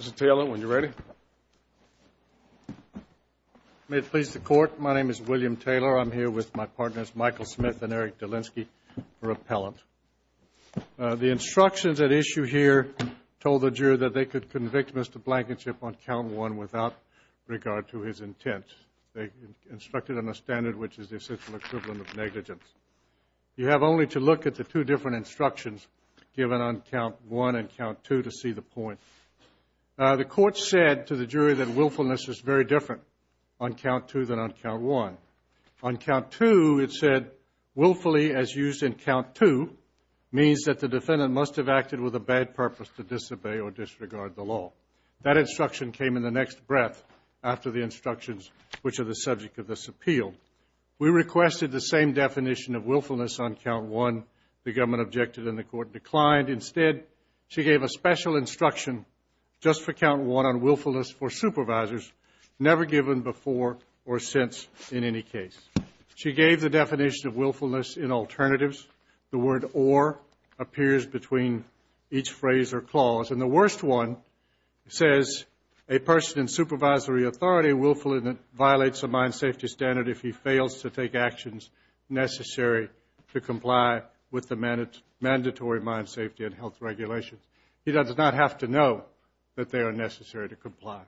Mr. Taylor, when you're ready. May it please the court, my name is William Taylor. I'm here with my partners Michael Smith and Eric Delinsky for appellant. The instructions at issue here told the juror that they could convict Mr. Blankenship on count one without regard to his intent. They instructed on a standard which is the essential equivalent of negligence. You have only to look at the two different instructions given on count one and count two to see the point. The court said to the jury that willfulness is very different on count two than on count one. On count two it said willfully as used in count two means that the defendant must have acted with a bad purpose to disobey or disregard the law. That instruction came in the next breath after the instructions which are the subject of this appeal. We requested the same definition of willfulness on count one. The government objected and the court declined. Instead, she gave a special instruction just for count one on willfulness for supervisors never given before or since in any case. She gave the definition of willfulness in alternatives. The word or appears between each phrase or clause. The worst one says a person in supervisory authority willfully violates a mine safety standard if he fails to take actions necessary to comply with the mandatory mine safety and health regulations. He does not have to know that they are necessary to comply.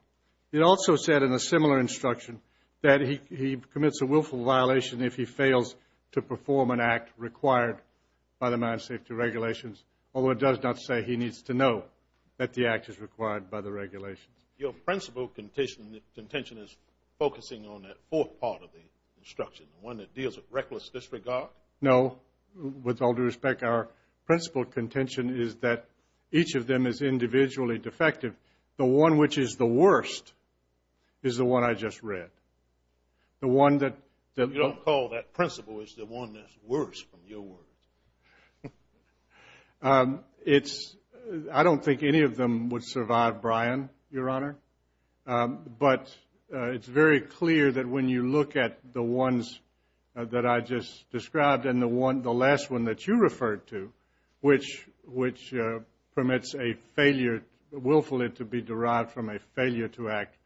It also said in a similar instruction that he commits a willful violation if he fails to perform an act required by the mine safety regulations. Although it does not say he needs to know that the act is required by the regulations. Your principle contention is focusing on that fourth part of the instruction, the one that deals with reckless disregard? No. With all due respect, our principle contention is that each of them is individually defective. The one which is the worst is the one I just read. You don't call that principle is the one that's worse from your words? I don't think any of them would survive, Brian, Your Honor. But it's very clear that when you look at the ones that I just described and the last one that you referred to, which permits a failure willfully to be derived from a failure to act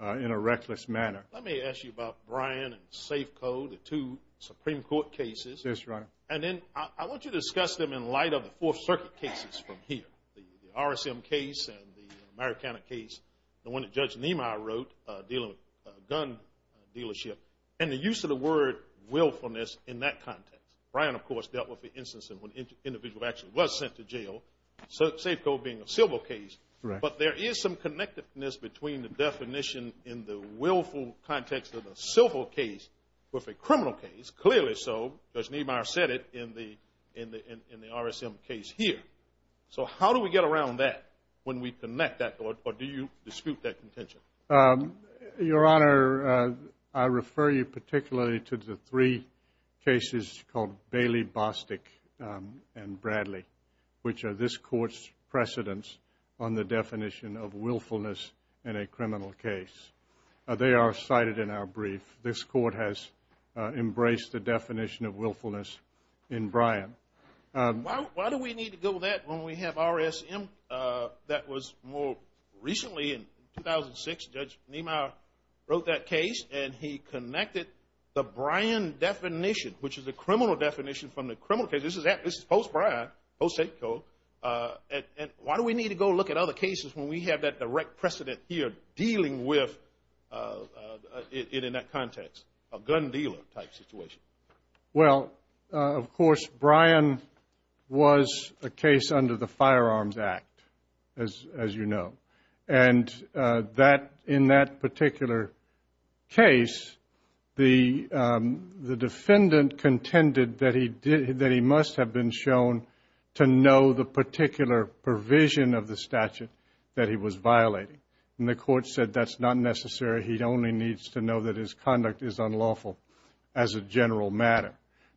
in a reckless manner. Let me ask you about Brian and Safeco, the two Supreme Court cases. Yes, Your Honor. And then I want you to discuss them in light of the Fourth Circuit cases from here, the RSM case and the Americana case, the one that Judge Niemeyer wrote dealing with a gun dealership, and the use of the word willfulness in that context. Brian, of course, dealt with the instance when an individual actually was sent to jail, Safeco being a civil case. Correct. But there is some connectedness between the definition in the willful context of a civil case with a criminal case, clearly so, as Niemeyer said it in the RSM case here. So how do we get around that when we connect that? Or do you dispute that contention? Your Honor, I refer you particularly to the three cases called Bailey, Bostic, and Bradley, which are this Court's precedents on the definition of willfulness in a criminal case. They are cited in our brief. This Court has embraced the definition of willfulness in Brian. Why do we need to go with that when we have RSM that was more recently in 2006, Judge Niemeyer wrote that case, and he connected the Brian definition, which is a criminal definition from the criminal case. This is post-Brian, post-Safeco. And why do we need to go look at other cases when we have that direct precedent here dealing with it in that context, a gun dealer type situation? Well, of course, Brian was a case under the Firearms Act, as you know. And in that particular case, the defendant contended that he must have been shown to know the particular provision of the statute that he was violating. And the Court said that's not necessary. He only needs to know that his conduct is unlawful as a general matter.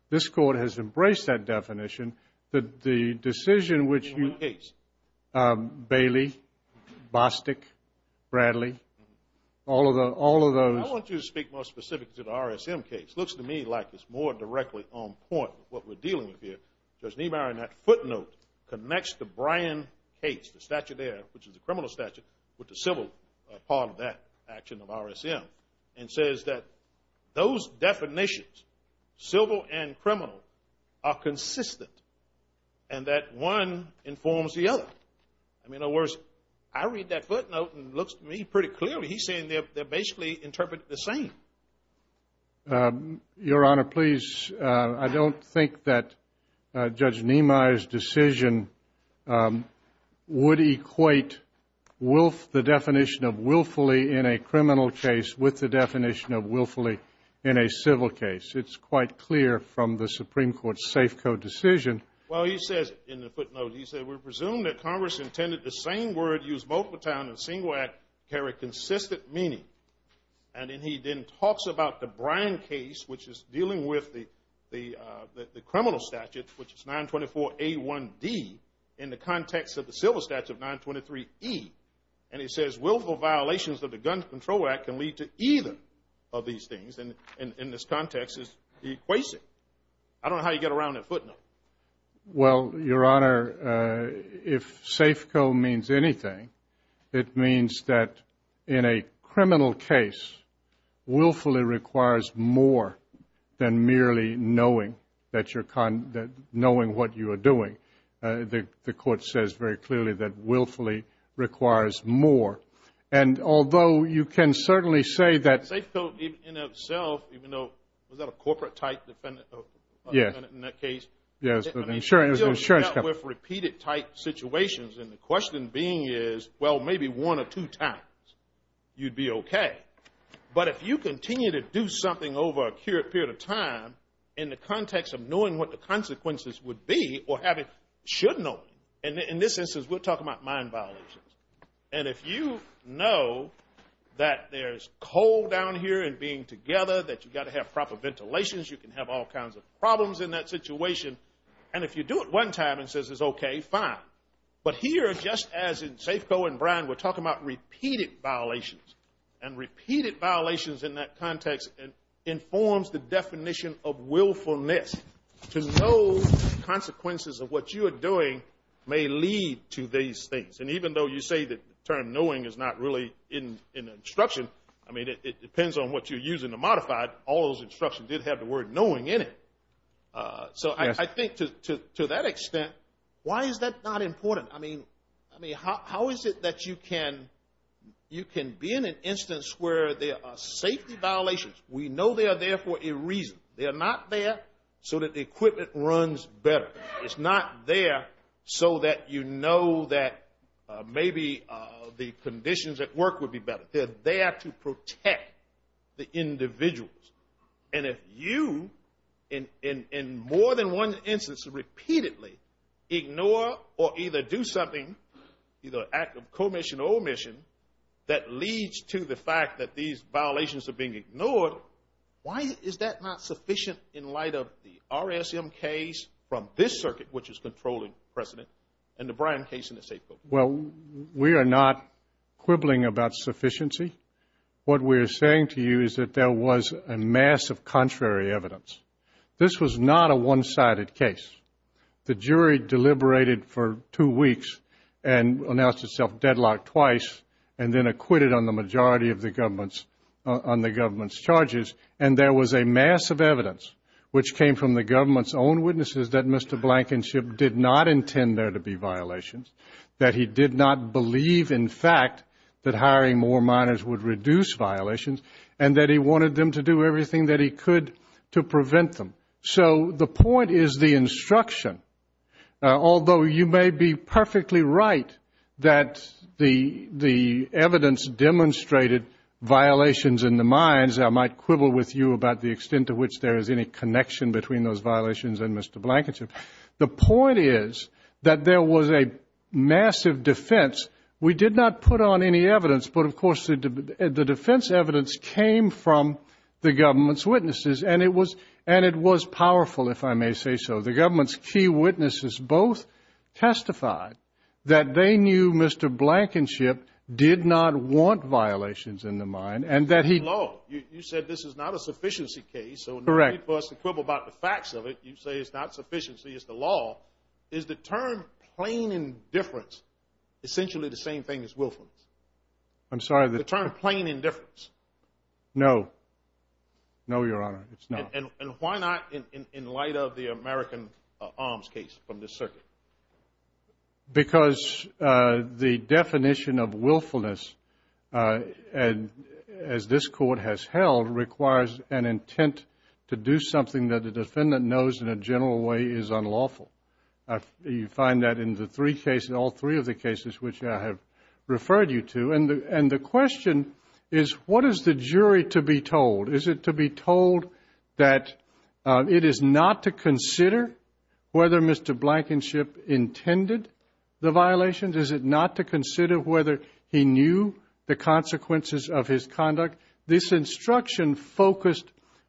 This Court has embraced that definition. The decision which you – In what case? Bailey, Bostic, Bradley, all of those. I want you to speak more specifically to the RSM case. It looks to me like it's more directly on point with what we're dealing with here. That footnote connects the Brian case, the statute there, which is the criminal statute, with the civil part of that action of RSM, and says that those definitions, civil and criminal, are consistent and that one informs the other. In other words, I read that footnote and it looks to me pretty clearly. He's saying they're basically interpreted the same. Your Honor, please, I don't think that Judge Niemeyer's decision would equate the definition of willfully in a criminal case with the definition of willfully in a civil case. It's quite clear from the Supreme Court's Safeco decision. Well, he says in the footnote, he says, we presume that Congress intended the same word used multiple times in a single act carry consistent meaning. And then he then talks about the Brian case, which is dealing with the criminal statute, which is 924A1D in the context of the civil statute 923E, and he says willful violations of the Gun Control Act can lead to either of these things, and in this context is the equation. I don't know how you get around that footnote. Well, Your Honor, if Safeco means anything, it means that in a criminal case, willfully requires more than merely knowing what you are doing. The Court says very clearly that willfully requires more. And although you can certainly say that – Safeco in itself, even though – was that a corporate-type defendant in that case? Yes, an insurance company. Repeated-type situations, and the question being is, well, maybe one or two times you'd be okay. But if you continue to do something over a period of time in the context of knowing what the consequences would be or should know, and in this instance we're talking about mind violations, and if you know that there's coal down here and being together, that you've got to have proper ventilations, you can have all kinds of problems in that situation. And if you do it one time and it says it's okay, fine. But here, just as in Safeco and Bryan, we're talking about repeated violations, and repeated violations in that context informs the definition of willfulness. To know the consequences of what you are doing may lead to these things. And even though you say that the term knowing is not really in the instruction, I mean, it depends on what you're using to modify it. All those instructions did have the word knowing in it. So I think to that extent, why is that not important? I mean, how is it that you can be in an instance where there are safety violations? We know they are there for a reason. They are not there so that the equipment runs better. It's not there so that you know that maybe the conditions at work would be better. But they are there to protect the individuals. And if you, in more than one instance, repeatedly ignore or either do something, either an act of commission or omission, that leads to the fact that these violations are being ignored, why is that not sufficient in light of the RSM case from this circuit, which is controlling precedent, and the Bryan case in the Safeco case? Well, we are not quibbling about sufficiency. What we are saying to you is that there was a mass of contrary evidence. This was not a one-sided case. The jury deliberated for two weeks and announced itself deadlocked twice and then acquitted on the majority of the government's charges. And there was a mass of evidence, which came from the government's own witnesses that Mr. Blankenship did not intend there to be violations, that he did not believe, in fact, that hiring more minors would reduce violations, and that he wanted them to do everything that he could to prevent them. So the point is the instruction, although you may be perfectly right that the evidence demonstrated violations in the minds, I might quibble with you about the extent to which there is any connection between those violations and Mr. Blankenship. The point is that there was a massive defense. We did not put on any evidence, but of course the defense evidence came from the government's witnesses, and it was powerful, if I may say so. The government's key witnesses both testified that they knew Mr. Blankenship did not want violations in the mind and that he – You said this is not a sufficiency case. Correct. If you were to quibble about the facts of it, you'd say it's not sufficiency, it's the law. Is the term plain indifference essentially the same thing as willfulness? I'm sorry. The term plain indifference. No. No, Your Honor, it's not. And why not in light of the American arms case from this circuit? Because the definition of willfulness, as this Court has held, requires an intent to do something that the defendant knows in a general way is unlawful. You find that in the three cases, all three of the cases which I have referred you to. And the question is what is the jury to be told? Is it to be told that it is not to consider whether Mr. Blankenship intended the violations? Is it not to consider whether he knew the consequences of his conduct? This instruction focused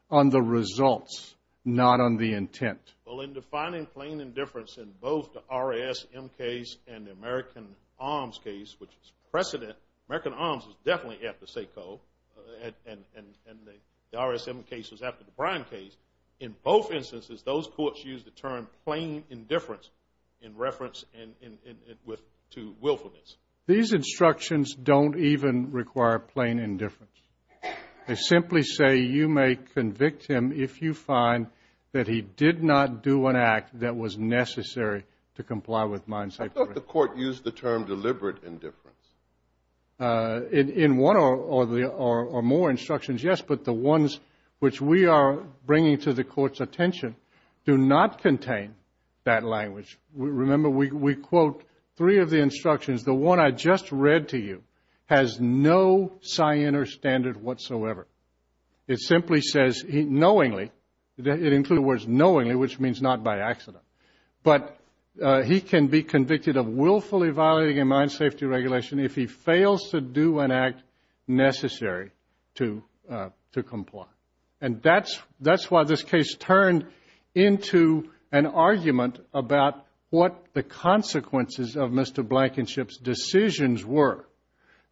on the results, not on the intent. Well, in defining plain indifference in both the RASM case and the American arms case, which is precedent, American arms was definitely at the SACO, and the RASM case was after the Brine case. In both instances, those courts used the term plain indifference in reference to willfulness. These instructions don't even require plain indifference. They simply say you may convict him if you find that he did not do an act that was necessary to comply with mine. I thought the Court used the term deliberate indifference. In one or more instructions, yes, but the ones which we are bringing to the Court's attention do not contain that language. Remember, we quote three of the instructions. The one I just read to you has no cyan or standard whatsoever. It simply says knowingly. It includes the words knowingly, which means not by accident. But he can be convicted of willfully violating a mine safety regulation if he fails to do an act necessary to comply. And that's why this case turned into an argument about what the consequences of Mr. Blankenship's decisions were.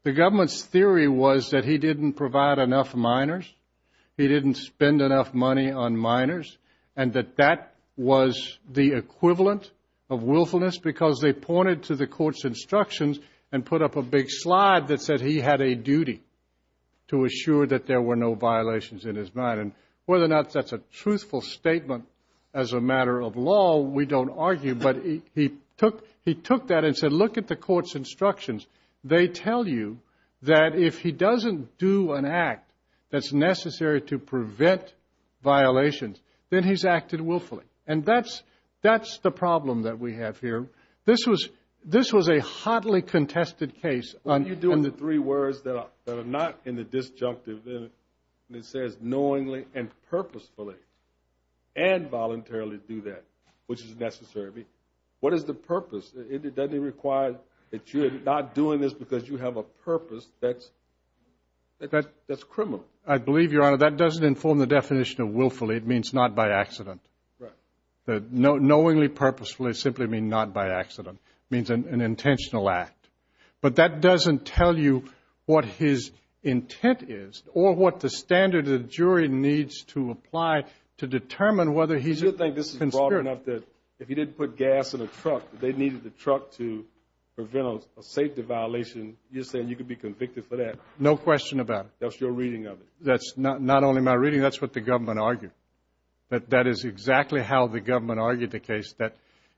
The government's theory was that he didn't provide enough miners, he didn't spend enough money on miners, and that that was the equivalent of willfulness because they pointed to the Court's instructions and put up a big slide that said he had a duty to assure that there were no violations in his mine. And whether or not that's a truthful statement as a matter of law, we don't argue, but he took that and said, look at the Court's instructions. They tell you that if he doesn't do an act that's necessary to prevent violations, then he's acted willfully. And that's the problem that we have here. This was a hotly contested case. You're doing the three words that are not in the disjunctive. It says knowingly and purposefully and voluntarily do that, which is necessary. What is the purpose? Doesn't it require that you're not doing this because you have a purpose that's criminal? I believe, Your Honor, that doesn't inform the definition of willfully. It means not by accident. Right. Knowingly purposefully simply means not by accident. It means an intentional act. But that doesn't tell you what his intent is or what the standard the jury needs to apply to determine whether he's a conspirator. Do you think this is broad enough that if he didn't put gas in a truck, they needed the truck to prevent a safety violation? You're saying you could be convicted for that? No question about it. That's your reading of it? That's not only my reading. That's what the government argued. That is exactly how the government argued the case, that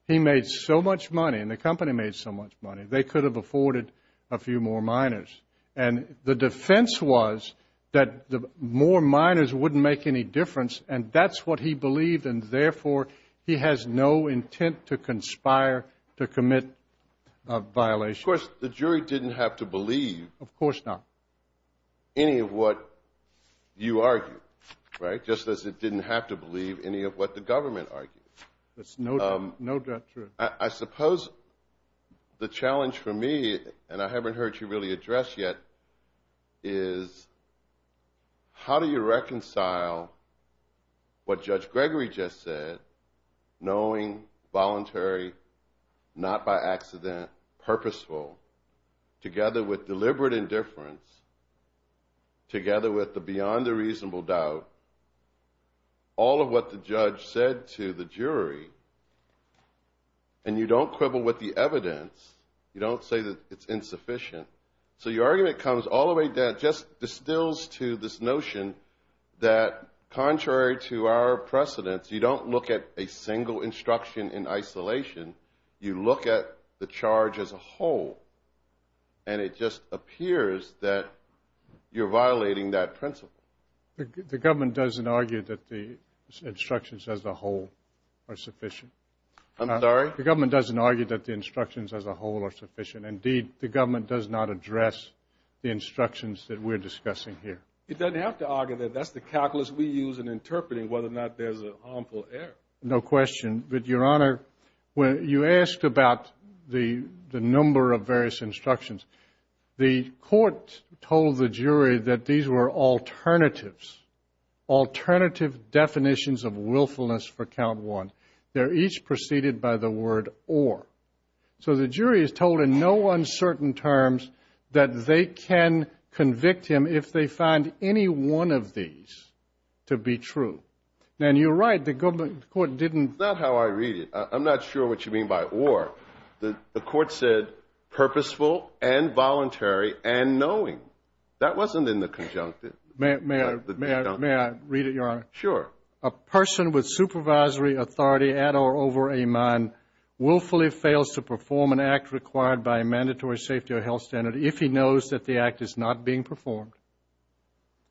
he made so much money and the company made so much money, they could have afforded a few more miners. And the defense was that more miners wouldn't make any difference, and that's what he believed, and therefore he has no intent to conspire to commit a violation. Of course, the jury didn't have to believe any of what you argued, right, just as it didn't have to believe any of what the government argued. That's no doubt true. I suppose the challenge for me, and I haven't heard you really address yet, is how do you reconcile what Judge Gregory just said, knowing, voluntary, not by accident, purposeful, together with deliberate indifference, together with the beyond a reasonable doubt, all of what the judge said to the jury, and you don't quibble with the evidence, you don't say that it's insufficient. So your argument comes all the way down, just distills to this notion that contrary to our precedence, you don't look at a single instruction in isolation, you look at the charge as a whole, and it just appears that you're violating that principle. The government doesn't argue that the instructions as a whole are sufficient. I'm sorry? The government doesn't argue that the instructions as a whole are sufficient. Indeed, the government does not address the instructions that we're discussing here. It doesn't have to argue that. That's the calculus we use in interpreting whether or not there's an harmful error. No question. But, Your Honor, you asked about the number of various instructions. The court told the jury that these were alternatives, alternative definitions of willfulness for count one. They're each preceded by the word or. So the jury is told in no uncertain terms that they can convict him if they find any one of these to be true. And you're right, the government court didn't. That's not how I read it. I'm not sure what you mean by or. The court said purposeful and voluntary and knowing. That wasn't in the conjunctive. May I read it, Your Honor? Sure. A person with supervisory authority at or over a man willfully fails to perform an act required by a mandatory safety or health standard if he knows that the act is not being performed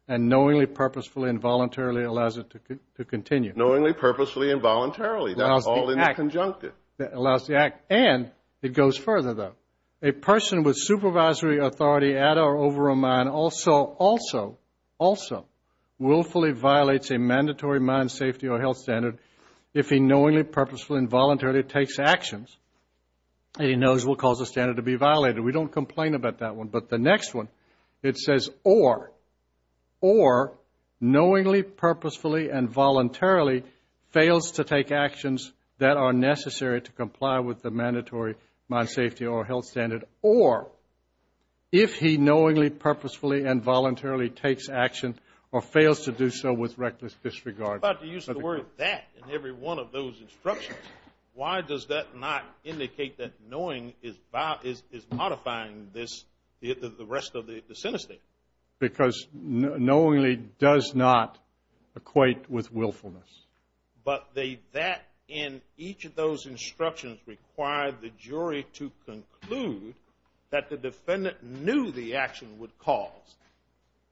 and knowingly, purposefully, and voluntarily allows it to continue. Knowingly, purposefully, and voluntarily. That's all in the conjunctive. That allows the act. And it goes further, though. A person with supervisory authority at or over a man also willfully violates a mandatory mind, safety, or health standard if he knowingly, purposefully, and voluntarily takes actions and he knows will cause the standard to be violated. We don't complain about that one. But the next one, it says or. Or knowingly, purposefully, and voluntarily fails to take actions that are necessary to comply with the mandatory mind, safety, or health standard or if he knowingly, purposefully, and voluntarily takes action or fails to do so with reckless disregard. I'm about to use the word that in every one of those instructions. Why does that not indicate that knowing is modifying this, the rest of the sentence statement? Because knowingly does not equate with willfulness. But that in each of those instructions required the jury to conclude that the defendant knew the action would cause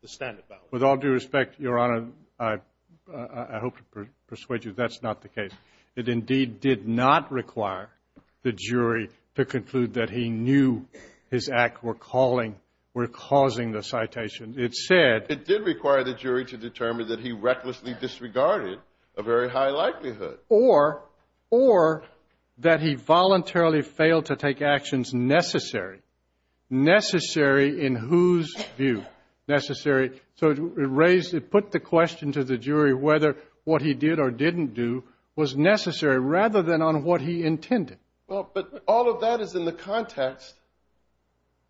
the standard violation. With all due respect, Your Honor, I hope to persuade you that's not the case. It indeed did not require the jury to conclude that he knew his act were causing the citation. It said. It did require the jury to determine that he recklessly disregarded a very high likelihood. Or that he voluntarily failed to take actions necessary. Necessary in whose view? Necessary. So it raised, it put the question to the jury whether what he did or didn't do was necessary rather than on what he intended. Well, but all of that is in the context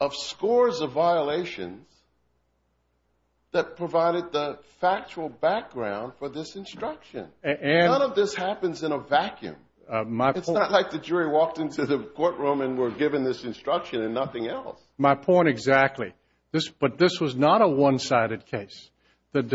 of scores of violations that provided the factual background for this instruction. None of this happens in a vacuum. It's not like the jury walked into the courtroom and were given this instruction and nothing else. My point exactly. But this was not a one-sided case. I'm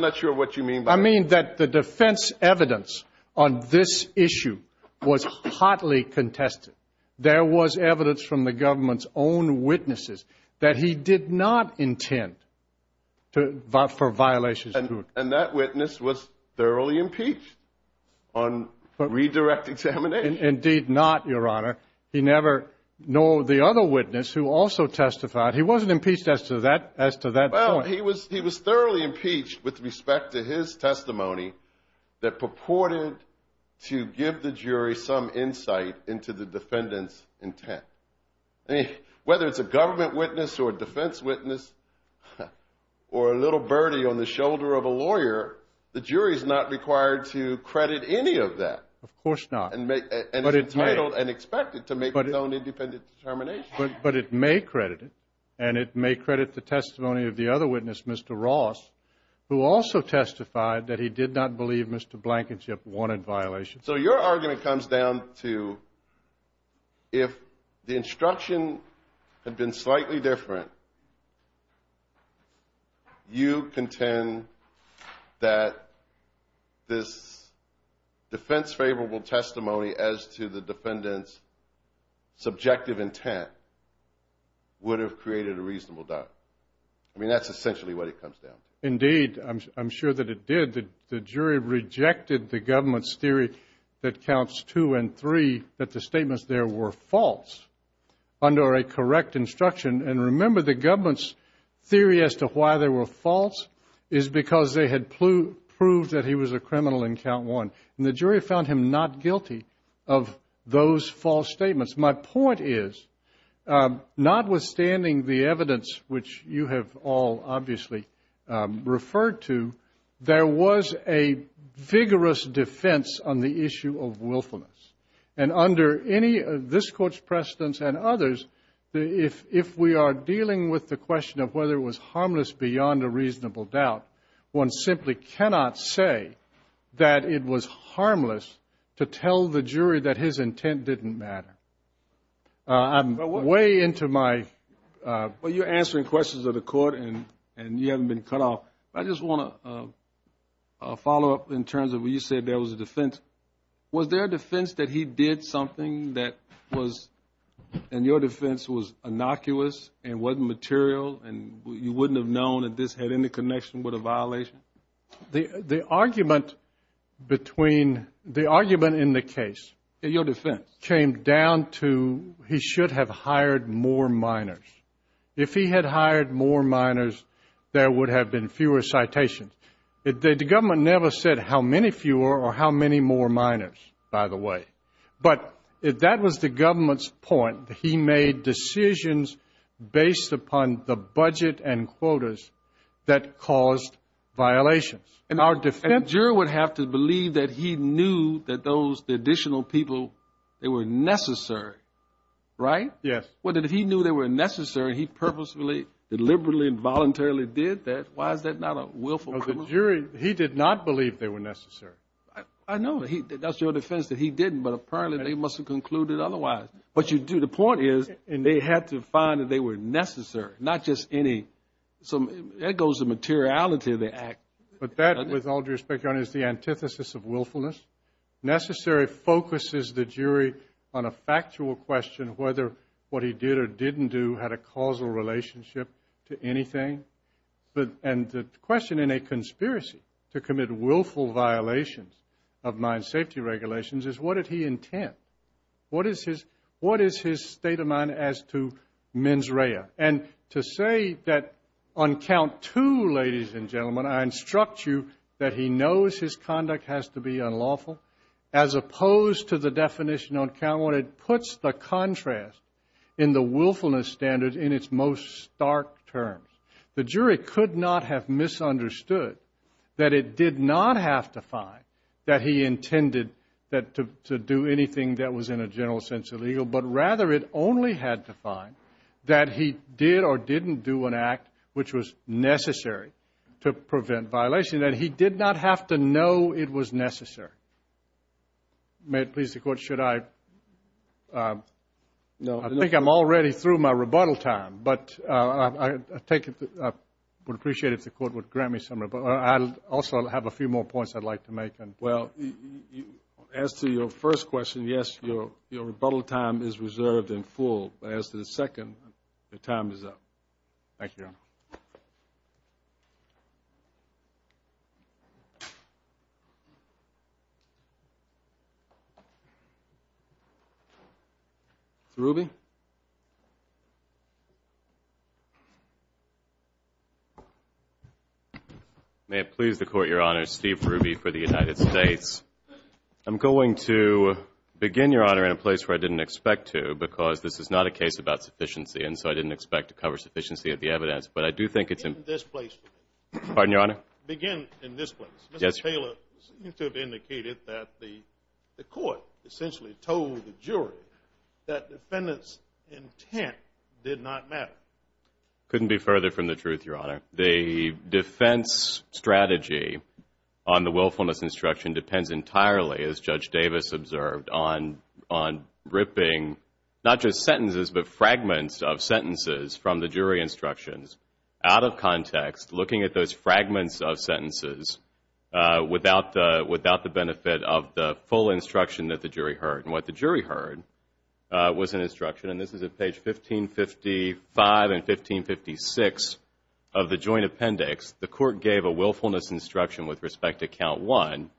not sure what you mean by that. I mean that the defense evidence on this issue was hotly contested. There was evidence from the government's own witnesses that he did not intend for violations. And that witness was thoroughly impeached on redirect examination. Indeed not, Your Honor. He never, nor the other witness who also testified, he wasn't impeached as to that point. He was thoroughly impeached with respect to his testimony that purported to give the jury some insight into the defendant's intent. Whether it's a government witness or a defense witness or a little birdie on the shoulder of a lawyer, the jury's not required to credit any of that. Of course not. And it's entitled and expected to make its own independent determination. But it may credit it, and it may credit the testimony of the other witness, Mr. Ross, who also testified that he did not believe Mr. Blankenship wanted violations. So your argument comes down to if the instruction had been slightly different, you contend that this defense-favorable testimony as to the defendant's subjective intent would have created a reasonable doubt. I mean, that's essentially what it comes down to. Indeed, I'm sure that it did. The jury rejected the government's theory that counts two and three, that the statements there were false under a correct instruction. And remember, the government's theory as to why they were false is because they had proved that he was a criminal in count one. And the jury found him not guilty of those false statements. My point is, notwithstanding the evidence, which you have all obviously referred to, there was a vigorous defense on the issue of willfulness. And under any of this Court's precedents and others, if we are dealing with the question of whether it was harmless beyond a reasonable doubt, one simply cannot say that it was harmless to tell the jury that his intent didn't matter. I'm way into my ---- Well, you're answering questions of the Court, and you haven't been cut off. I just want to follow up in terms of when you said there was a defense. Was there a defense that he did something that was, in your defense, was innocuous and wasn't material and you wouldn't have known that this had any connection with a violation? The argument in the case came down to he should have hired more minors. If he had hired more minors, there would have been fewer citations. The government never said how many fewer or how many more minors, by the way. But that was the government's point. He made decisions based upon the budget and quotas that caused violations. And our defense ---- And a juror would have to believe that he knew that those additional people, they were necessary, right? Yes. Well, if he knew they were necessary, he purposefully and liberally and voluntarily did that, why is that not a willful conclusion? Well, the jury, he did not believe they were necessary. I know. That's your defense that he didn't, but apparently they must have concluded otherwise. But you do. The point is they had to find that they were necessary, not just any. So there goes the materiality of the act. But that, with all due respect, Your Honor, is the antithesis of willfulness. Necessary focuses the jury on a factual question, whether what he did or didn't do had a causal relationship to anything. And the question in a conspiracy to commit willful violations of mine safety regulations is, what did he intend? What is his state of mind as to mens rea? And to say that on count two, ladies and gentlemen, I instruct you that he knows his conduct has to be unlawful, as opposed to the definition on count one, where it puts the contrast in the willfulness standard in its most stark terms. The jury could not have misunderstood that it did not have to find that he intended to do anything that was, in a general sense, illegal, but rather it only had to find that he did or didn't do an act which was necessary to prevent violation, that he did not have to know it was necessary. May it please the Court, should I? No. I think I'm already through my rebuttal time. But I would appreciate it if the Court would grant me some rebuttal. I also have a few more points I'd like to make. Well, as to your first question, yes, your rebuttal time is reserved in full. But as to the second, your time is up. Thank you, Your Honor. Mr. Ruby? May it please the Court, Your Honor, Steve Ruby for the United States. I'm going to begin, Your Honor, in a place where I didn't expect to, because this is not a case about sufficiency, and so I didn't expect to cover sufficiency of the evidence. But I do think it's in this place. Pardon, Your Honor? Begin in this place. Yes, Your Honor. It seems to have indicated that the Court essentially told the jury that defendant's intent did not matter. It couldn't be further from the truth, Your Honor. The defense strategy on the willfulness instruction depends entirely, as Judge Davis observed, on ripping not just sentences, looking at those fragments of sentences, without the benefit of the full instruction that the jury heard. And what the jury heard was an instruction, and this is at page 1555 and 1556 of the Joint Appendix, the Court gave a willfulness instruction with respect to Count 1,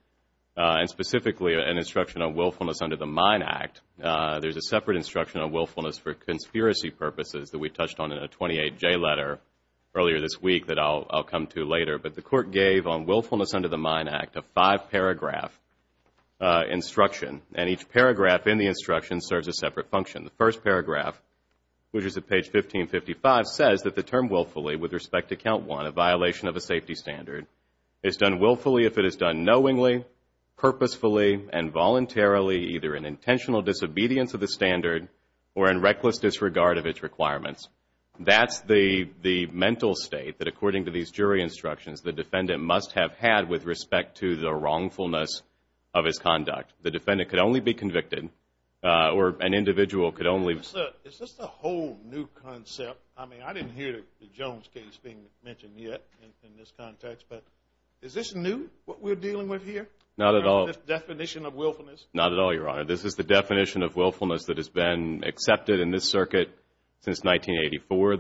and specifically an instruction on willfulness under the Mine Act. There's a separate instruction on willfulness for conspiracy purposes that we touched on in a 28J letter earlier this week that I'll come to later, but the Court gave on willfulness under the Mine Act a five-paragraph instruction, and each paragraph in the instruction serves a separate function. The first paragraph, which is at page 1555, says that the term willfully with respect to Count 1, a violation of a safety standard, is done willfully if it is done knowingly, purposefully, and voluntarily, either in intentional disobedience of the standard or in reckless disregard of its requirements. That's the mental state that, according to these jury instructions, the defendant must have had with respect to the wrongfulness of his conduct. The defendant could only be convicted, or an individual could only be convicted. Is this a whole new concept? I mean, I didn't hear the Jones case being mentioned yet in this context, but is this new, what we're dealing with here? Not at all. This definition of willfulness? Not at all, Your Honor. This is the definition of willfulness that has been accepted in this circuit since 1984.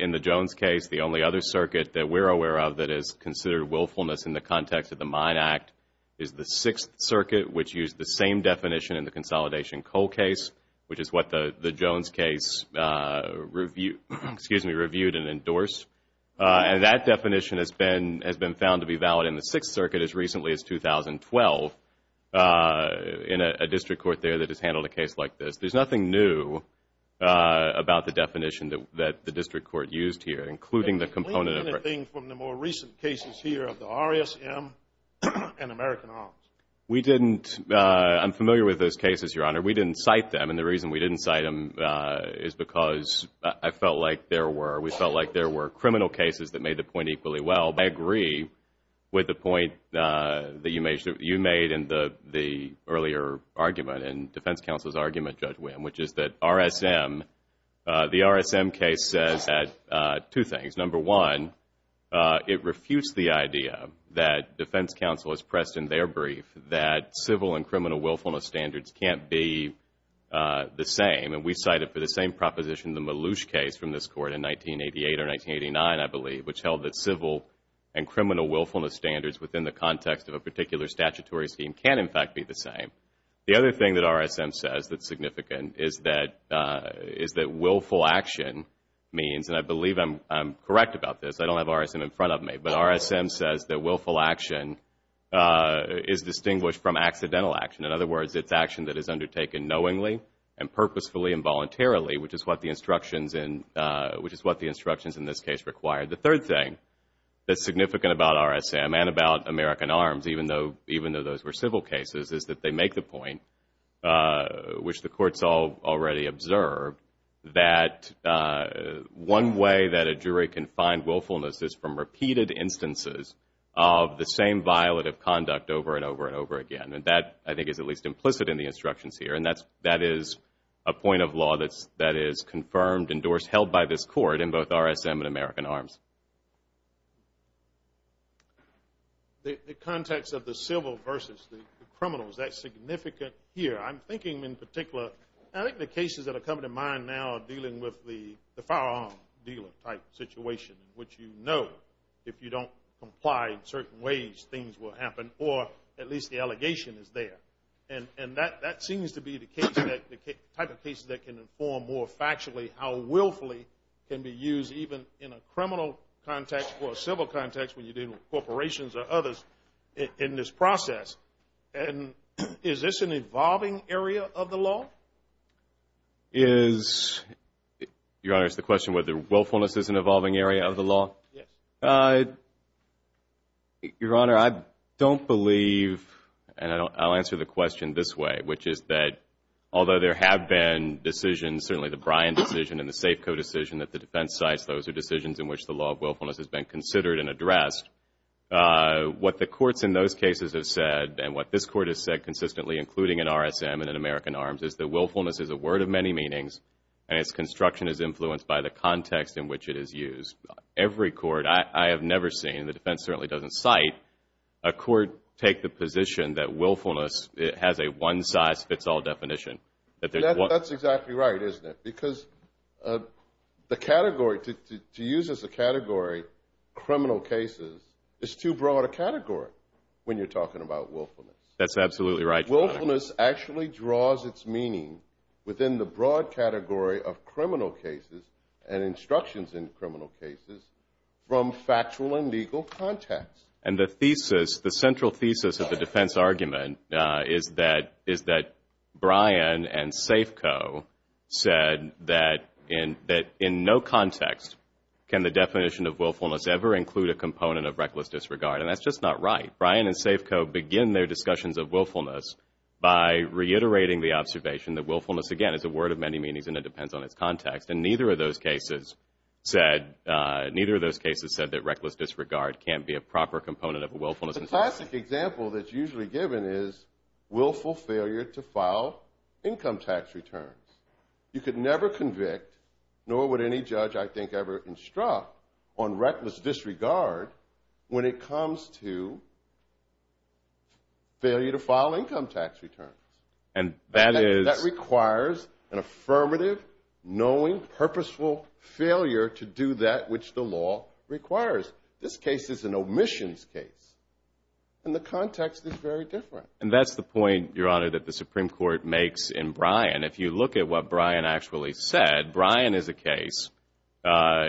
In the Jones case, the only other circuit that we're aware of that is considered willfulness in the context of the Mine Act is the Sixth Circuit, which used the same definition in the consolidation coal case, which is what the Jones case reviewed and endorsed. And that definition has been found to be valid in the Sixth Circuit as recently as 2012 in a district court there that has handled a case like this. There's nothing new about the definition that the district court used here, including the component of it. Did they claim anything from the more recent cases here of the RSM and American Arms? We didn't. I'm familiar with those cases, Your Honor. We didn't cite them, and the reason we didn't cite them is because I felt like there were. We felt like there were criminal cases that made the point equally well. I agree with the point that you made in the earlier argument and defense counsel's argument, Judge Wim, which is that the RSM case says two things. Number one, it refused the idea that defense counsel has pressed in their brief that civil and criminal willfulness standards can't be the same, and we cited for the same proposition the Maloosh case from this court in 1988 or 1989, I believe, which held that civil and criminal willfulness standards within the context of a particular statutory scheme can, in fact, be the same. The other thing that RSM says that's significant is that willful action means, and I believe I'm correct about this, I don't have RSM in front of me, but RSM says that willful action is distinguished from accidental action. In other words, it's action that is undertaken knowingly and purposefully and voluntarily, which is what the instructions in this case require. The third thing that's significant about RSM and about American Arms, even though those were civil cases, is that they make the point, which the courts all already observed, that one way that a jury can find willfulness is from repeated instances of the same violative conduct over and over and over again, and that, I think, is at least implicit in the instructions here, and that is a point of law that is confirmed, endorsed, held by this court in both RSM and American Arms. The context of the civil versus the criminal, is that significant here? I'm thinking in particular, I think the cases that are coming to mind now are dealing with the firearm dealer type situation, which you know, if you don't comply in certain ways, things will happen, or at least the allegation is there. And that seems to be the type of case that can inform more factually how willfully can be used even in a criminal context or a civil context when you're dealing with corporations or others in this process. And is this an evolving area of the law? Is, Your Honor, it's the question whether willfulness is an evolving area of the law? Yes. Your Honor, I don't believe, and I'll answer the question this way, which is that although there have been decisions, certainly the Bryan decision and the Safeco decision that the defense cites, those are decisions in which the law of willfulness has been considered and addressed. What the courts in those cases have said, and what this court has said consistently, including in RSM and in American Arms, is that willfulness is a word of many meanings, and its construction is influenced by the context in which it is used. Every court, I have never seen, and the defense certainly doesn't cite, a court take the position that willfulness has a one-size-fits-all definition. That's exactly right, isn't it? Because the category, to use as a category, criminal cases, is too broad a category when you're talking about willfulness. That's absolutely right, Your Honor. Willfulness actually draws its meaning within the broad category of criminal cases and instructions in criminal cases from factual and legal context. And the thesis, the central thesis of the defense argument, is that Bryan and Safeco said that in no context can the definition of willfulness ever include a component of reckless disregard, and that's just not right. Bryan and Safeco begin their discussions of willfulness by reiterating the observation that willfulness, again, is a word of many meanings and it depends on its context, and neither of those cases said that reckless disregard can't be a proper component of willfulness. The classic example that's usually given is willful failure to file income tax returns. You could never convict, nor would any judge I think ever instruct, on reckless disregard when it comes to failure to file income tax returns. That requires an affirmative, knowing, purposeful failure to do that which the law requires. This case is an omissions case, and the context is very different. And that's the point, Your Honor, that the Supreme Court makes in Bryan. If you look at what Bryan actually said, Bryan is a case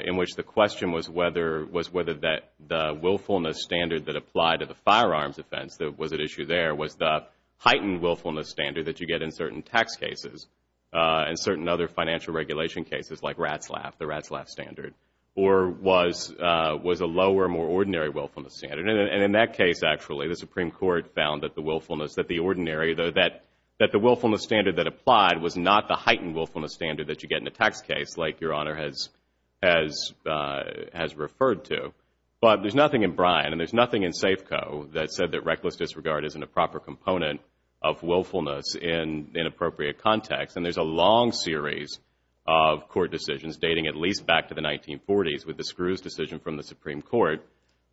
in which the question was whether the willfulness standard that applied to the firearms offense that was at issue there was the heightened willfulness standard that you get in certain tax cases and certain other financial regulation cases like RATSLAF, the RATSLAF standard, or was a lower, more ordinary willfulness standard. And in that case, actually, the Supreme Court found that the willfulness, that the ordinary, that the willfulness standard that applied was not the heightened willfulness standard that you get in a tax case like Your Honor has referred to. But there's nothing in Bryan, and there's nothing in Safeco that said that reckless disregard isn't a proper component of willfulness in appropriate context. And there's a long series of court decisions dating at least back to the 1940s with the Screws decision from the Supreme Court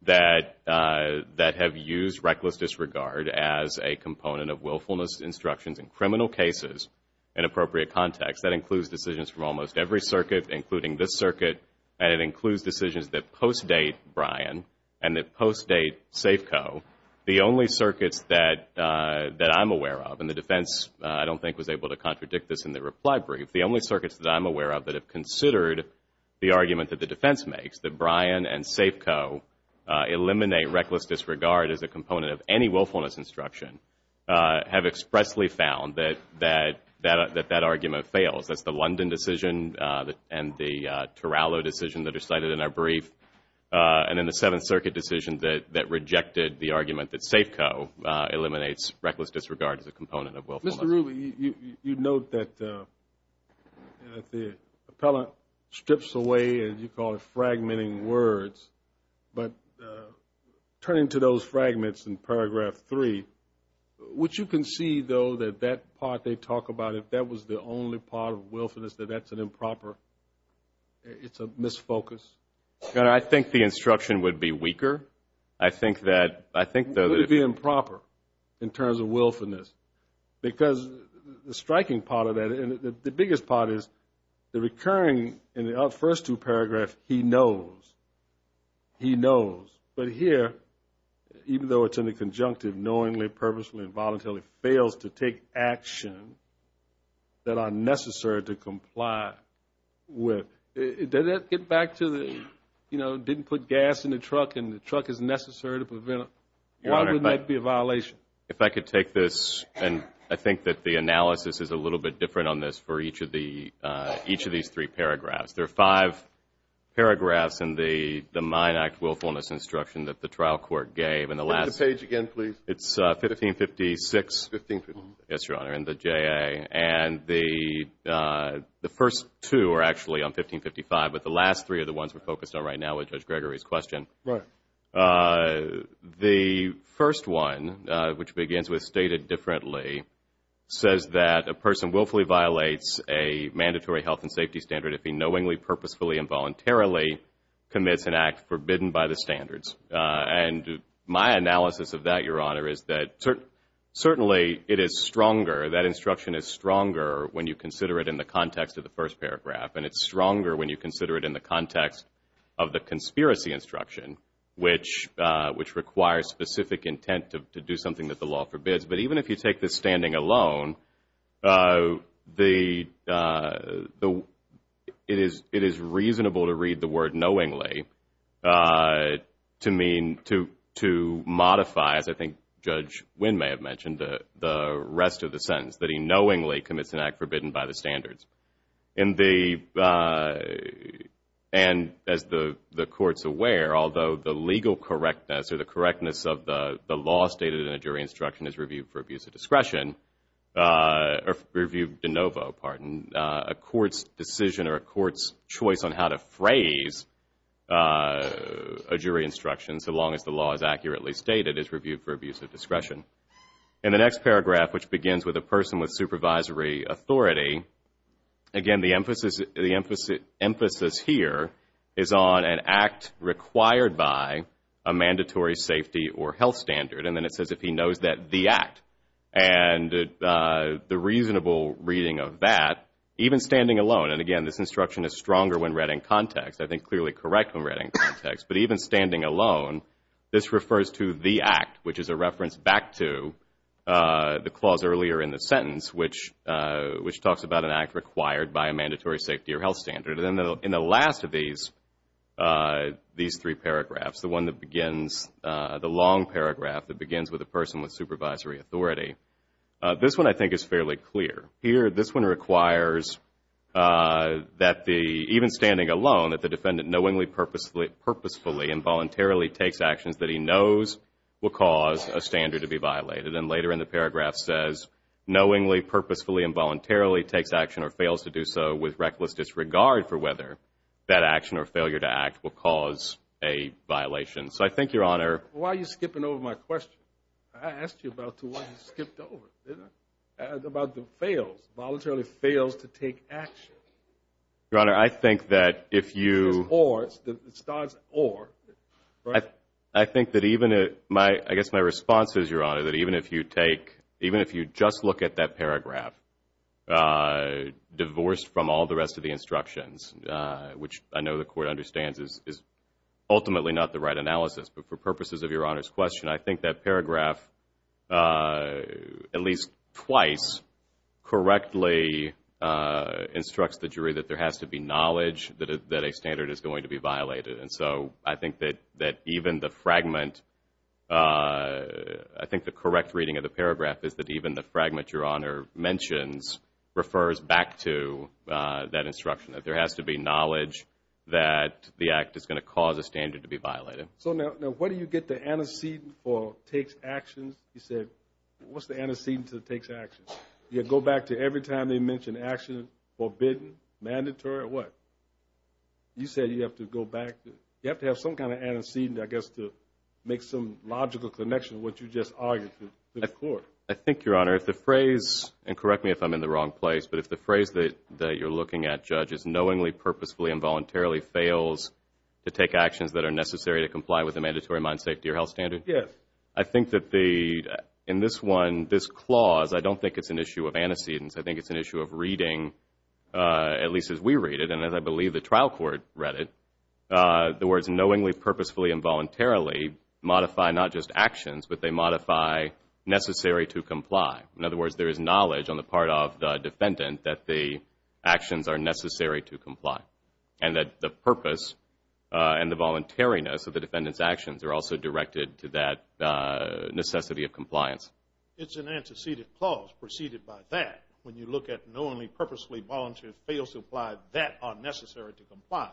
that have used reckless disregard as a component of willfulness instructions in criminal cases in appropriate context. That includes decisions from almost every circuit, including this circuit, and it includes decisions that post-date Bryan and that post-date Safeco, the only circuits that I'm aware of, and the defense, I don't think, was able to contradict this in the reply brief. The only circuits that I'm aware of that have considered the argument that the defense makes, that Bryan and Safeco eliminate reckless disregard as a component of any willfulness instruction, have expressly found that that argument fails. That's the London decision and the Turalo decision that are cited in our brief, and then the Seventh Circuit decision that rejected the argument that Safeco eliminates reckless disregard as a component of willfulness. Mr. Rubin, you note that the appellate strips away, as you call it, fragmenting words, but turning to those fragments in paragraph 3, would you concede, though, that that part they talk about, if that was the only part of willfulness, that that's an improper, it's a misfocus? I think the instruction would be weaker. I think that, I think, though, that it would be improper in terms of willfulness. Because the striking part of that, and the biggest part is, the recurring, in the first two paragraphs, he knows. He knows. But here, even though it's in the conjunctive, knowingly, purposefully, and voluntarily fails to take action that are necessary to comply with. Does that get back to the, you know, didn't put gas in the truck and the truck is necessary to prevent, why wouldn't that be a violation? If I could take this, and I think that the analysis is a little bit different on this for each of these three paragraphs. There are five paragraphs in the Mine Act willfulness instruction that the trial court gave. Read the page again, please. It's 1556. Yes, Your Honor, in the JA. And the first two are actually on 1555, but the last three are the ones we're focused on right now with Judge Gregory's question. Right. The first one, which begins with stated differently, says that a person willfully violates a mandatory health and safety standard if he knowingly, purposefully, and voluntarily commits an act forbidden by the standards. And my analysis of that, Your Honor, is that certainly it is stronger, that instruction is stronger when you consider it in the context of the first paragraph. And it's stronger when you consider it in the context of the conspiracy instruction, which requires specific intent to do something that the law forbids. But even if you take this standing alone, it is reasonable to read the word knowingly to mean, to modify, as I think Judge Wynn may have mentioned, the rest of the sentence, that he knowingly commits an act forbidden by the standards. And as the court's aware, although the legal correctness or the correctness of the law stated in a jury instruction is reviewed for abuse of discretion, or reviewed de novo, pardon, a court's decision or a court's choice on how to phrase a jury instruction, so long as the law is accurately stated, is reviewed for abuse of discretion. In the next paragraph, which begins with a person with supervisory authority, again, the emphasis here is on an act required by a mandatory safety or health standard. And then it says if he knows that the act. And the reasonable reading of that, even standing alone, and again, this instruction is stronger when read in context, I think clearly correct when read in context. But even standing alone, this refers to the act, which is a reference back to the clause earlier in the sentence, which talks about an act required by a mandatory safety or health standard. And in the last of these three paragraphs, the one that begins, the long paragraph that begins with a person with supervisory authority, this one I think is fairly clear. Here, this one requires that the, even standing alone, that the defendant knowingly, purposefully, and voluntarily takes actions that he knows will cause a standard to be violated. And later in the paragraph says, knowingly, purposefully, and voluntarily takes action or fails to do so with reckless disregard for whether that action or failure to act will cause a violation. So I think, Your Honor. Why are you skipping over my question? I asked you about to why you skipped over it, didn't I? About the fails. Voluntarily fails to take action. Your Honor, I think that if you. Or. It starts or. I think that even, I guess my response is, Your Honor, that even if you take, even if you just look at that paragraph, divorced from all the rest of the instructions, which I know the Court understands is ultimately not the right analysis. But for purposes of Your Honor's question, I think that paragraph, at least twice, correctly instructs the jury that there has to be knowledge that a standard is going to be violated. And so I think that even the fragment, I think the correct reading of the paragraph is that even the fragment Your Honor mentions refers back to that instruction, that there has to be knowledge that the act is going to cause a standard to be violated. So now, where do you get the antecedent for takes actions? You said, what's the antecedent to takes actions? You go back to every time they mention action, forbidden, mandatory, what? You said you have to go back. You have to have some kind of antecedent, I guess, to make some logical connection to what you just argued to the Court. I think, Your Honor, if the phrase, and correct me if I'm in the wrong place, but if the phrase that you're looking at, Judge, is knowingly, purposefully, and voluntarily fails to take actions that are necessary to comply with a mandatory mind, safety, or health standard? Yes. I think that in this one, this clause, I don't think it's an issue of antecedents. I think it's an issue of reading, at least as we read it, and as I believe the trial court read it, the words knowingly, purposefully, and voluntarily modify not just actions, but they modify necessary to comply. In other words, there is knowledge on the part of the defendant that the actions are necessary to comply, and that the purpose and the voluntariness of the defendant's actions are also directed to that necessity of compliance. It's an antecedent clause preceded by that. When you look at knowingly, purposefully, voluntarily fails to apply that are necessary to comply.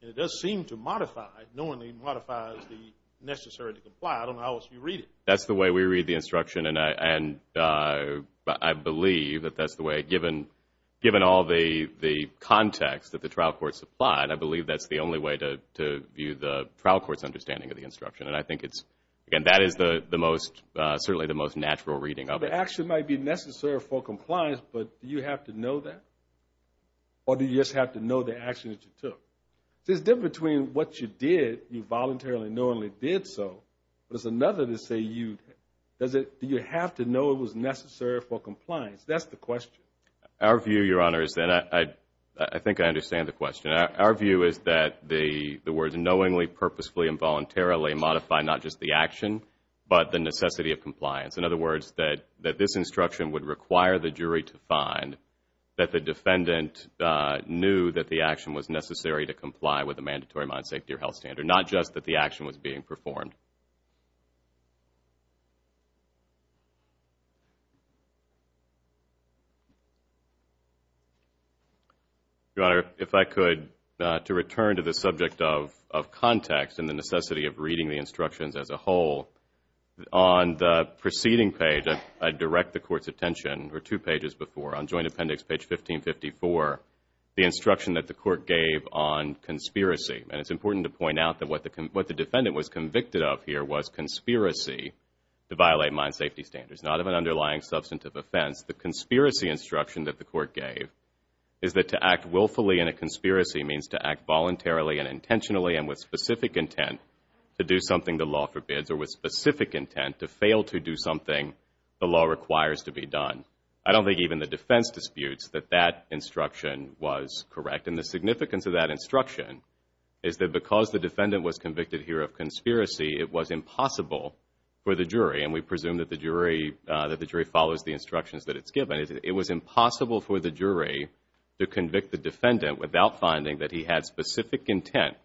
It does seem to modify, knowingly modifies the necessary to comply. I don't know how else you read it. That's the way we read the instruction, and I believe that that's the way, given all the context that the trial court supplied. I believe that's the only way to view the trial court's understanding of the instruction, and I think that is certainly the most natural reading of it. The action might be necessary for compliance, but do you have to know that? Or do you just have to know the action that you took? There's a difference between what you did, you voluntarily, knowingly did so, but it's another to say do you have to know it was necessary for compliance? That's the question. Our view, Your Honor, is that I think I understand the question. Our view is that the words knowingly, purposefully, and voluntarily modify not just the action, but the necessity of compliance. In other words, that this instruction would require the jury to find that the defendant knew that the action was necessary to comply with a mandatory modern safety or health standard, not just that the action was being performed. Your Honor, if I could, to return to the subject of context and the necessity of reading the instructions as a whole, on the preceding page, I direct the Court's attention, or two pages before, on Joint Appendix page 1554, the instruction that the Court gave on conspiracy. And it's important to point out that what the defendant was convicted of here was conspiracy to violate modern safety standards, not of an underlying substantive offense. The conspiracy instruction that the Court gave is that to act willfully in a conspiracy means to act voluntarily and intentionally and with specific intent to do something the law forbids, or with specific intent to fail to do something the law requires to be done. I don't think even the defense disputes that that instruction was correct. And the significance of that instruction is that because the defendant was convicted here of conspiracy, it was impossible for the jury, and we presume that the jury follows the instructions that it's given, it was impossible for the jury to convict the defendant without finding that he had specific intent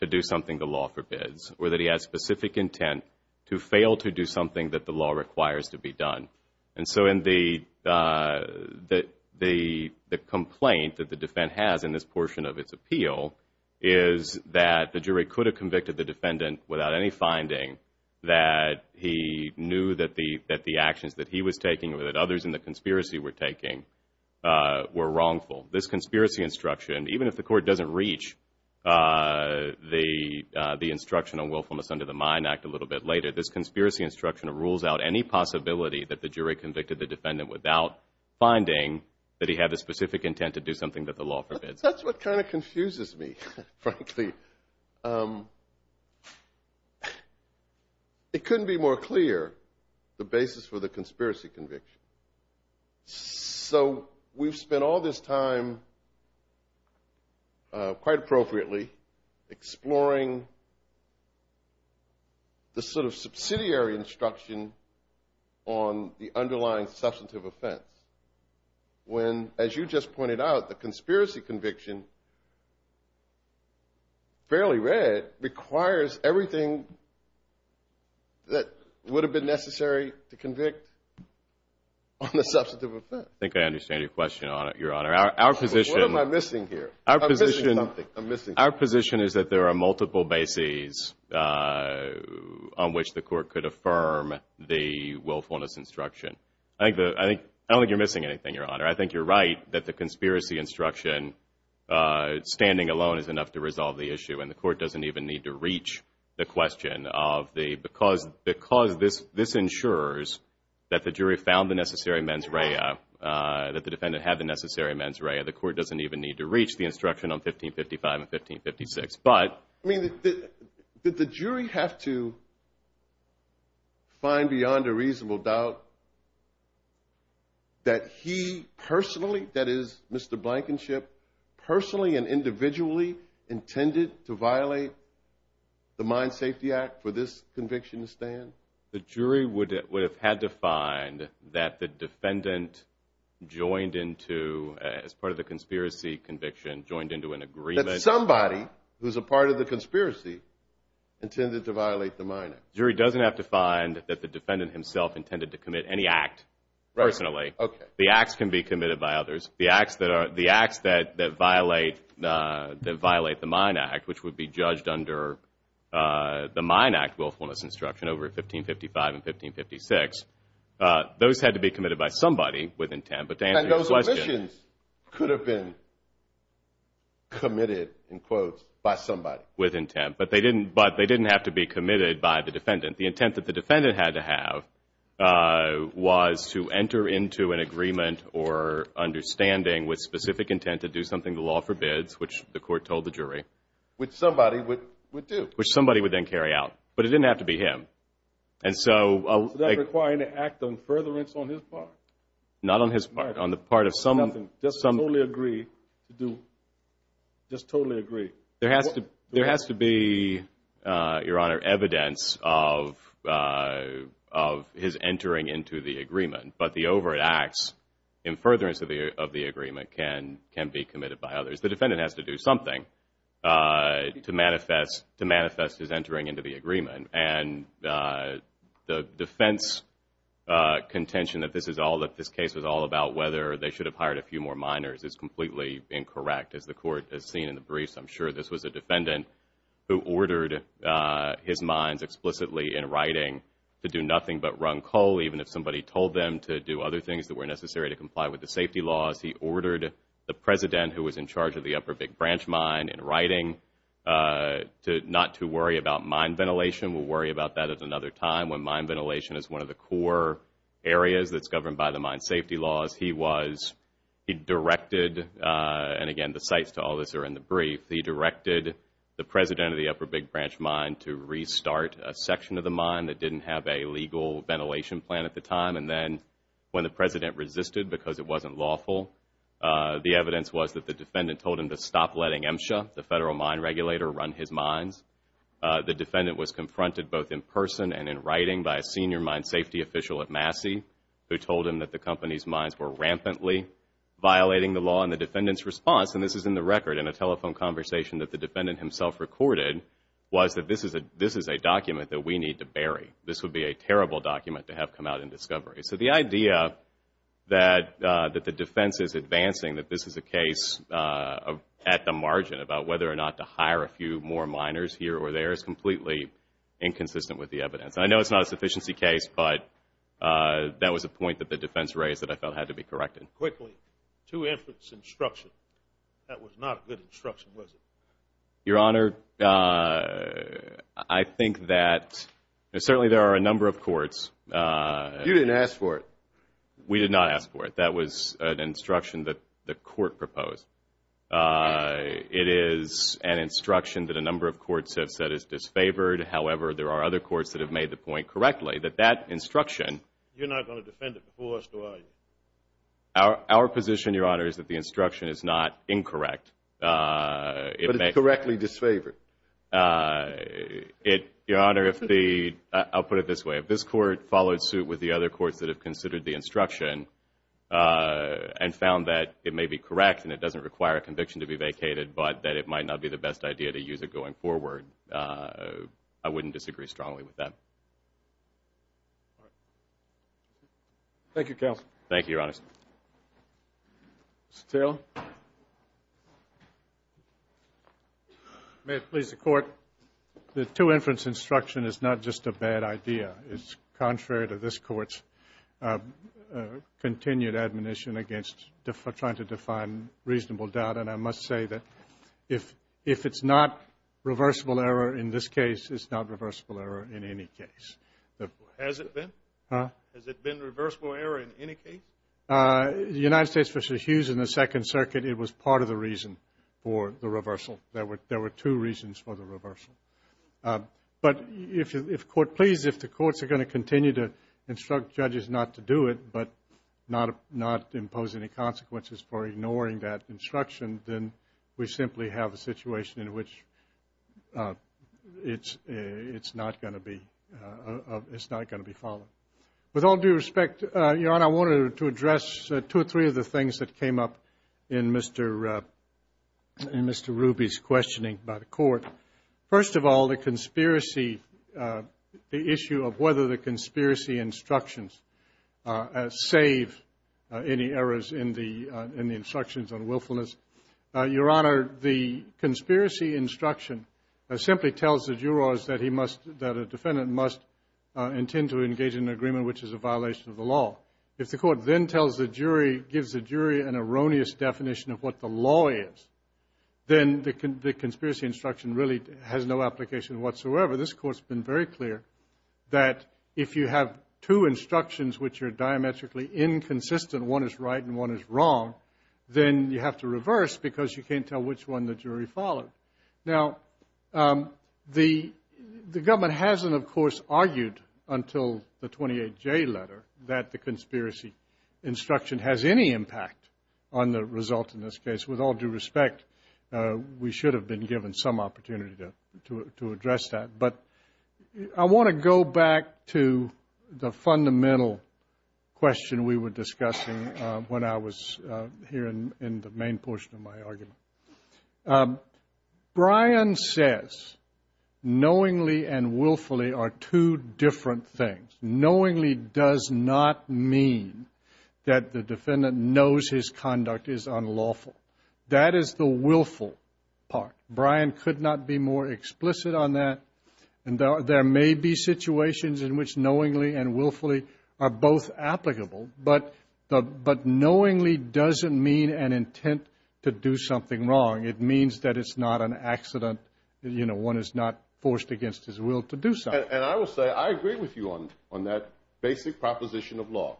to do something the law forbids, or that he had specific intent to fail to do something that the law requires to be done. And so the complaint that the defense has in this portion of its appeal is that the jury could have convicted the defendant without any finding that he knew that the actions that he was taking or that others in the conspiracy were taking were wrongful. This conspiracy instruction, even if the Court doesn't reach the instruction on willfulness under the Mine Act a little bit later, this conspiracy instruction rules out any possibility that the jury convicted the defendant without finding that he had the specific intent to do something that the law forbids. That's what kind of confuses me, frankly. It couldn't be more clear, the basis for the conspiracy conviction. So we've spent all this time, quite appropriately, exploring the sort of subsidiary instruction on the underlying substantive offense. When, as you just pointed out, the conspiracy conviction, fairly read, requires everything that would have been necessary to convict on the substantive offense. I think I understand your question, Your Honor. What am I missing here? I'm missing something. Our position is that there are multiple bases on which the Court could affirm the willfulness instruction. I don't think you're missing anything, Your Honor. I think you're right that the conspiracy instruction, standing alone, is enough to resolve the issue. And the Court doesn't even need to reach the question of the, because this ensures that the jury found the necessary mens rea, that the defendant had the necessary mens rea, the Court doesn't even need to reach the instruction on 1555 and 1556. But did the jury have to find beyond a reasonable doubt that he personally, that is, Mr. Blankenship, personally and individually intended to violate the Mine Safety Act for this conviction to stand? The jury would have had to find that the defendant joined into, as part of the conspiracy conviction, joined into an agreement. That somebody who's a part of the conspiracy intended to violate the mine act. The jury doesn't have to find that the defendant himself intended to commit any act personally. The acts can be committed by others. The acts that violate the Mine Act, which would be judged under the Mine Act willfulness instruction over 1555 and 1556, those had to be committed by somebody with intent. And those omissions could have been committed, in quotes, by somebody. With intent. But they didn't have to be committed by the defendant. The intent that the defendant had to have was to enter into an agreement or understanding with specific intent to do something the law forbids, which the Court told the jury. Which somebody would do. Which somebody would then carry out. But it didn't have to be him. And so. Was that requiring an act of furtherance on his part? Not on his part. On the part of someone. Just totally agree to do, just totally agree. There has to be, Your Honor, evidence of his entering into the agreement. But the overt acts in furtherance of the agreement can be committed by others. The defendant has to do something to manifest his entering into the agreement. And the defense contention that this case was all about whether they should have hired a few more miners is completely incorrect. As the Court has seen in the briefs, I'm sure this was a defendant who ordered his mines explicitly in writing to do nothing but run coal, even if somebody told them to do other things that were necessary to comply with the safety laws. He ordered the President, who was in charge of the Upper Big Branch mine, in writing not to worry about mine ventilation. We'll worry about that at another time when mine ventilation is one of the core areas that's governed by the mine safety laws. He directed, and again, the sites to all this are in the brief, he directed the President of the Upper Big Branch mine to restart a section of the mine that didn't have a legal ventilation plan at the time. And then when the President resisted because it wasn't lawful, the evidence was that the defendant told him to stop letting MSHA, the federal mine regulator, run his mines. The defendant was confronted both in person and in writing by a senior mine safety official at Massey who told him that the company's mines were rampantly violating the law. And the defendant's response, and this is in the record in a telephone conversation that the defendant himself recorded, was that this is a document that we need to bury. This would be a terrible document to have come out in discovery. So the idea that the defense is advancing that this is a case at the margin about whether or not to hire a few more miners here or there is completely inconsistent with the evidence. I know it's not a sufficiency case, but that was a point that the defense raised that I felt had to be corrected. Quickly, two infants instruction. That was not a good instruction, was it? Your Honor, I think that certainly there are a number of courts. You didn't ask for it. We did not ask for it. That was an instruction that the court proposed. It is an instruction that a number of courts have said is disfavored. However, there are other courts that have made the point correctly that that instruction. You're not going to defend it before us, do you? Our position, Your Honor, is that the instruction is not incorrect. But it's correctly disfavored. Your Honor, I'll put it this way. If this court followed suit with the other courts that have considered the instruction and found that it may be correct and it doesn't require a conviction to be vacated, but that it might not be the best idea to use it going forward, I wouldn't disagree strongly with that. Thank you, counsel. Thank you, Your Honor. Mr. Taylor. May it please the Court. The two infants instruction is not just a bad idea. It's contrary to this Court's continued admonition against trying to define reasonable doubt. And I must say that if it's not reversible error in this case, it's not reversible error in any case. Has it been? Has it been reversible error in any case? The United States v. Hughes in the Second Circuit, it was part of the reason for the reversal. There were two reasons for the reversal. But if the courts are going to continue to instruct judges not to do it but not impose any consequences for ignoring that instruction, then we simply have a situation in which it's not going to be followed. With all due respect, Your Honor, I wanted to address two or three of the things that came up in Mr. Ruby's questioning by the Court. First of all, the conspiracy, the issue of whether the conspiracy instructions save any errors in the instructions on willfulness. Your Honor, the conspiracy instruction simply tells the jurors that a defendant must intend to engage in an agreement which is a violation of the law. If the court then tells the jury, gives the jury an erroneous definition of what the law is, then the conspiracy instruction really has no application whatsoever. This Court's been very clear that if you have two instructions which are diametrically inconsistent, one is right and one is wrong, then you have to reverse because you can't tell which one the jury followed. Now, the government hasn't, of course, argued until the 28J letter that the conspiracy instruction has any impact on the result in this case. With all due respect, we should have been given some opportunity to address that. But I want to go back to the fundamental question we were discussing when I was here in the main portion of my argument. Brian says knowingly and willfully are two different things. Knowingly does not mean that the defendant knows his conduct is unlawful. That is the willful part. Brian could not be more explicit on that. There may be situations in which knowingly and willfully are both applicable, but knowingly doesn't mean an intent to do something wrong. It means that it's not an accident. One is not forced against his will to do something. And I will say I agree with you on that basic proposition of law.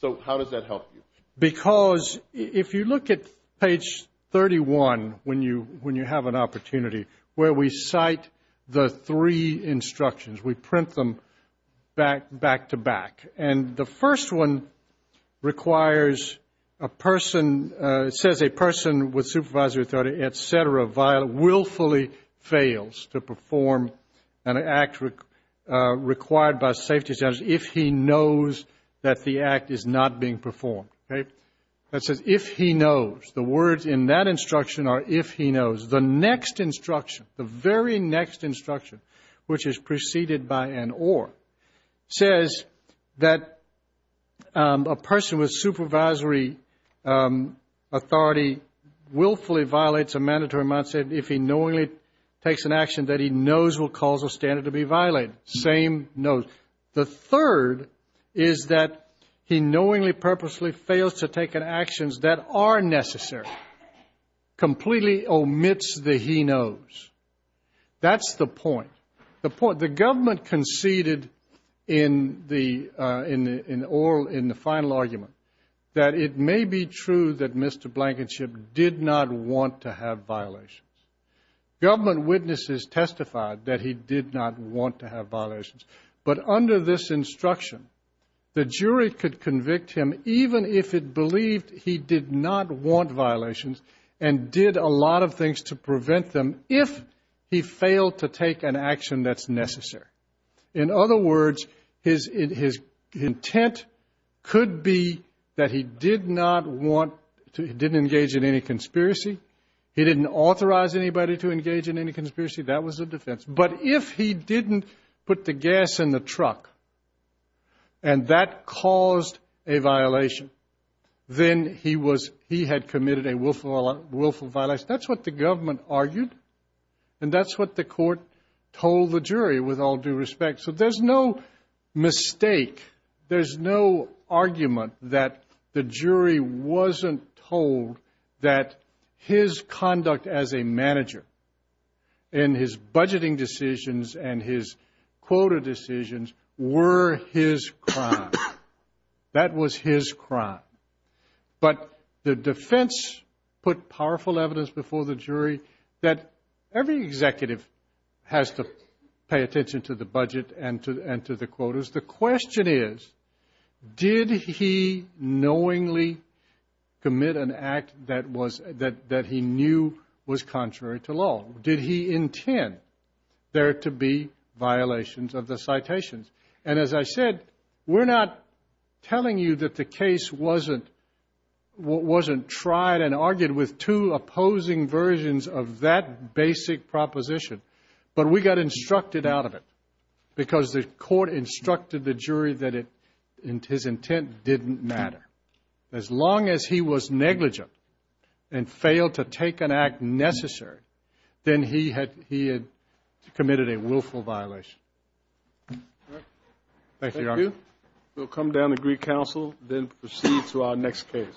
So how does that help you? Because if you look at page 31 when you have an opportunity where we cite the three instructions, we print them back to back, and the first one requires a person, it says a person with supervisory authority, et cetera, willfully fails to perform an act required by safety standards if he knows that the act is not being performed. That says if he knows. The words in that instruction are if he knows. The next instruction, the very next instruction, which is preceded by an or, says that a person with supervisory authority willfully violates a mandatory amount of safety if he knowingly takes an action that he knows will cause a standard to be violated. Same note. The third is that he knowingly, purposely fails to take actions that are necessary, completely omits the he knows. That's the point. The government conceded in the final argument that it may be true that Mr. Blankenship did not want to have violations. Government witnesses testified that he did not want to have violations. But under this instruction, the jury could convict him even if it believed he did not want violations and did a lot of things to prevent them if he failed to take an action that's necessary. In other words, his intent could be that he did not want to, he didn't engage in any conspiracy. He didn't authorize anybody to engage in any conspiracy. That was a defense. But if he didn't put the gas in the truck and that caused a violation, then he had committed a willful violation. That's what the government argued, and that's what the court told the jury with all due respect. So there's no mistake, there's no argument that the jury wasn't told that his conduct as a manager and his budgeting decisions and his quota decisions were his crime. That was his crime. But the defense put powerful evidence before the jury that every executive has to pay attention to the budget and to the quotas. The question is, did he knowingly commit an act that he knew was contrary to law? Did he intend there to be violations of the citations? And as I said, we're not telling you that the case wasn't tried and argued with two opposing versions of that basic proposition. But we got instructed out of it because the court instructed the jury that his intent didn't matter. As long as he was negligent and failed to take an act necessary, then he had committed a willful violation. Thank you, Your Honor. Thank you. We'll come down to Greek Council, then proceed to our next case.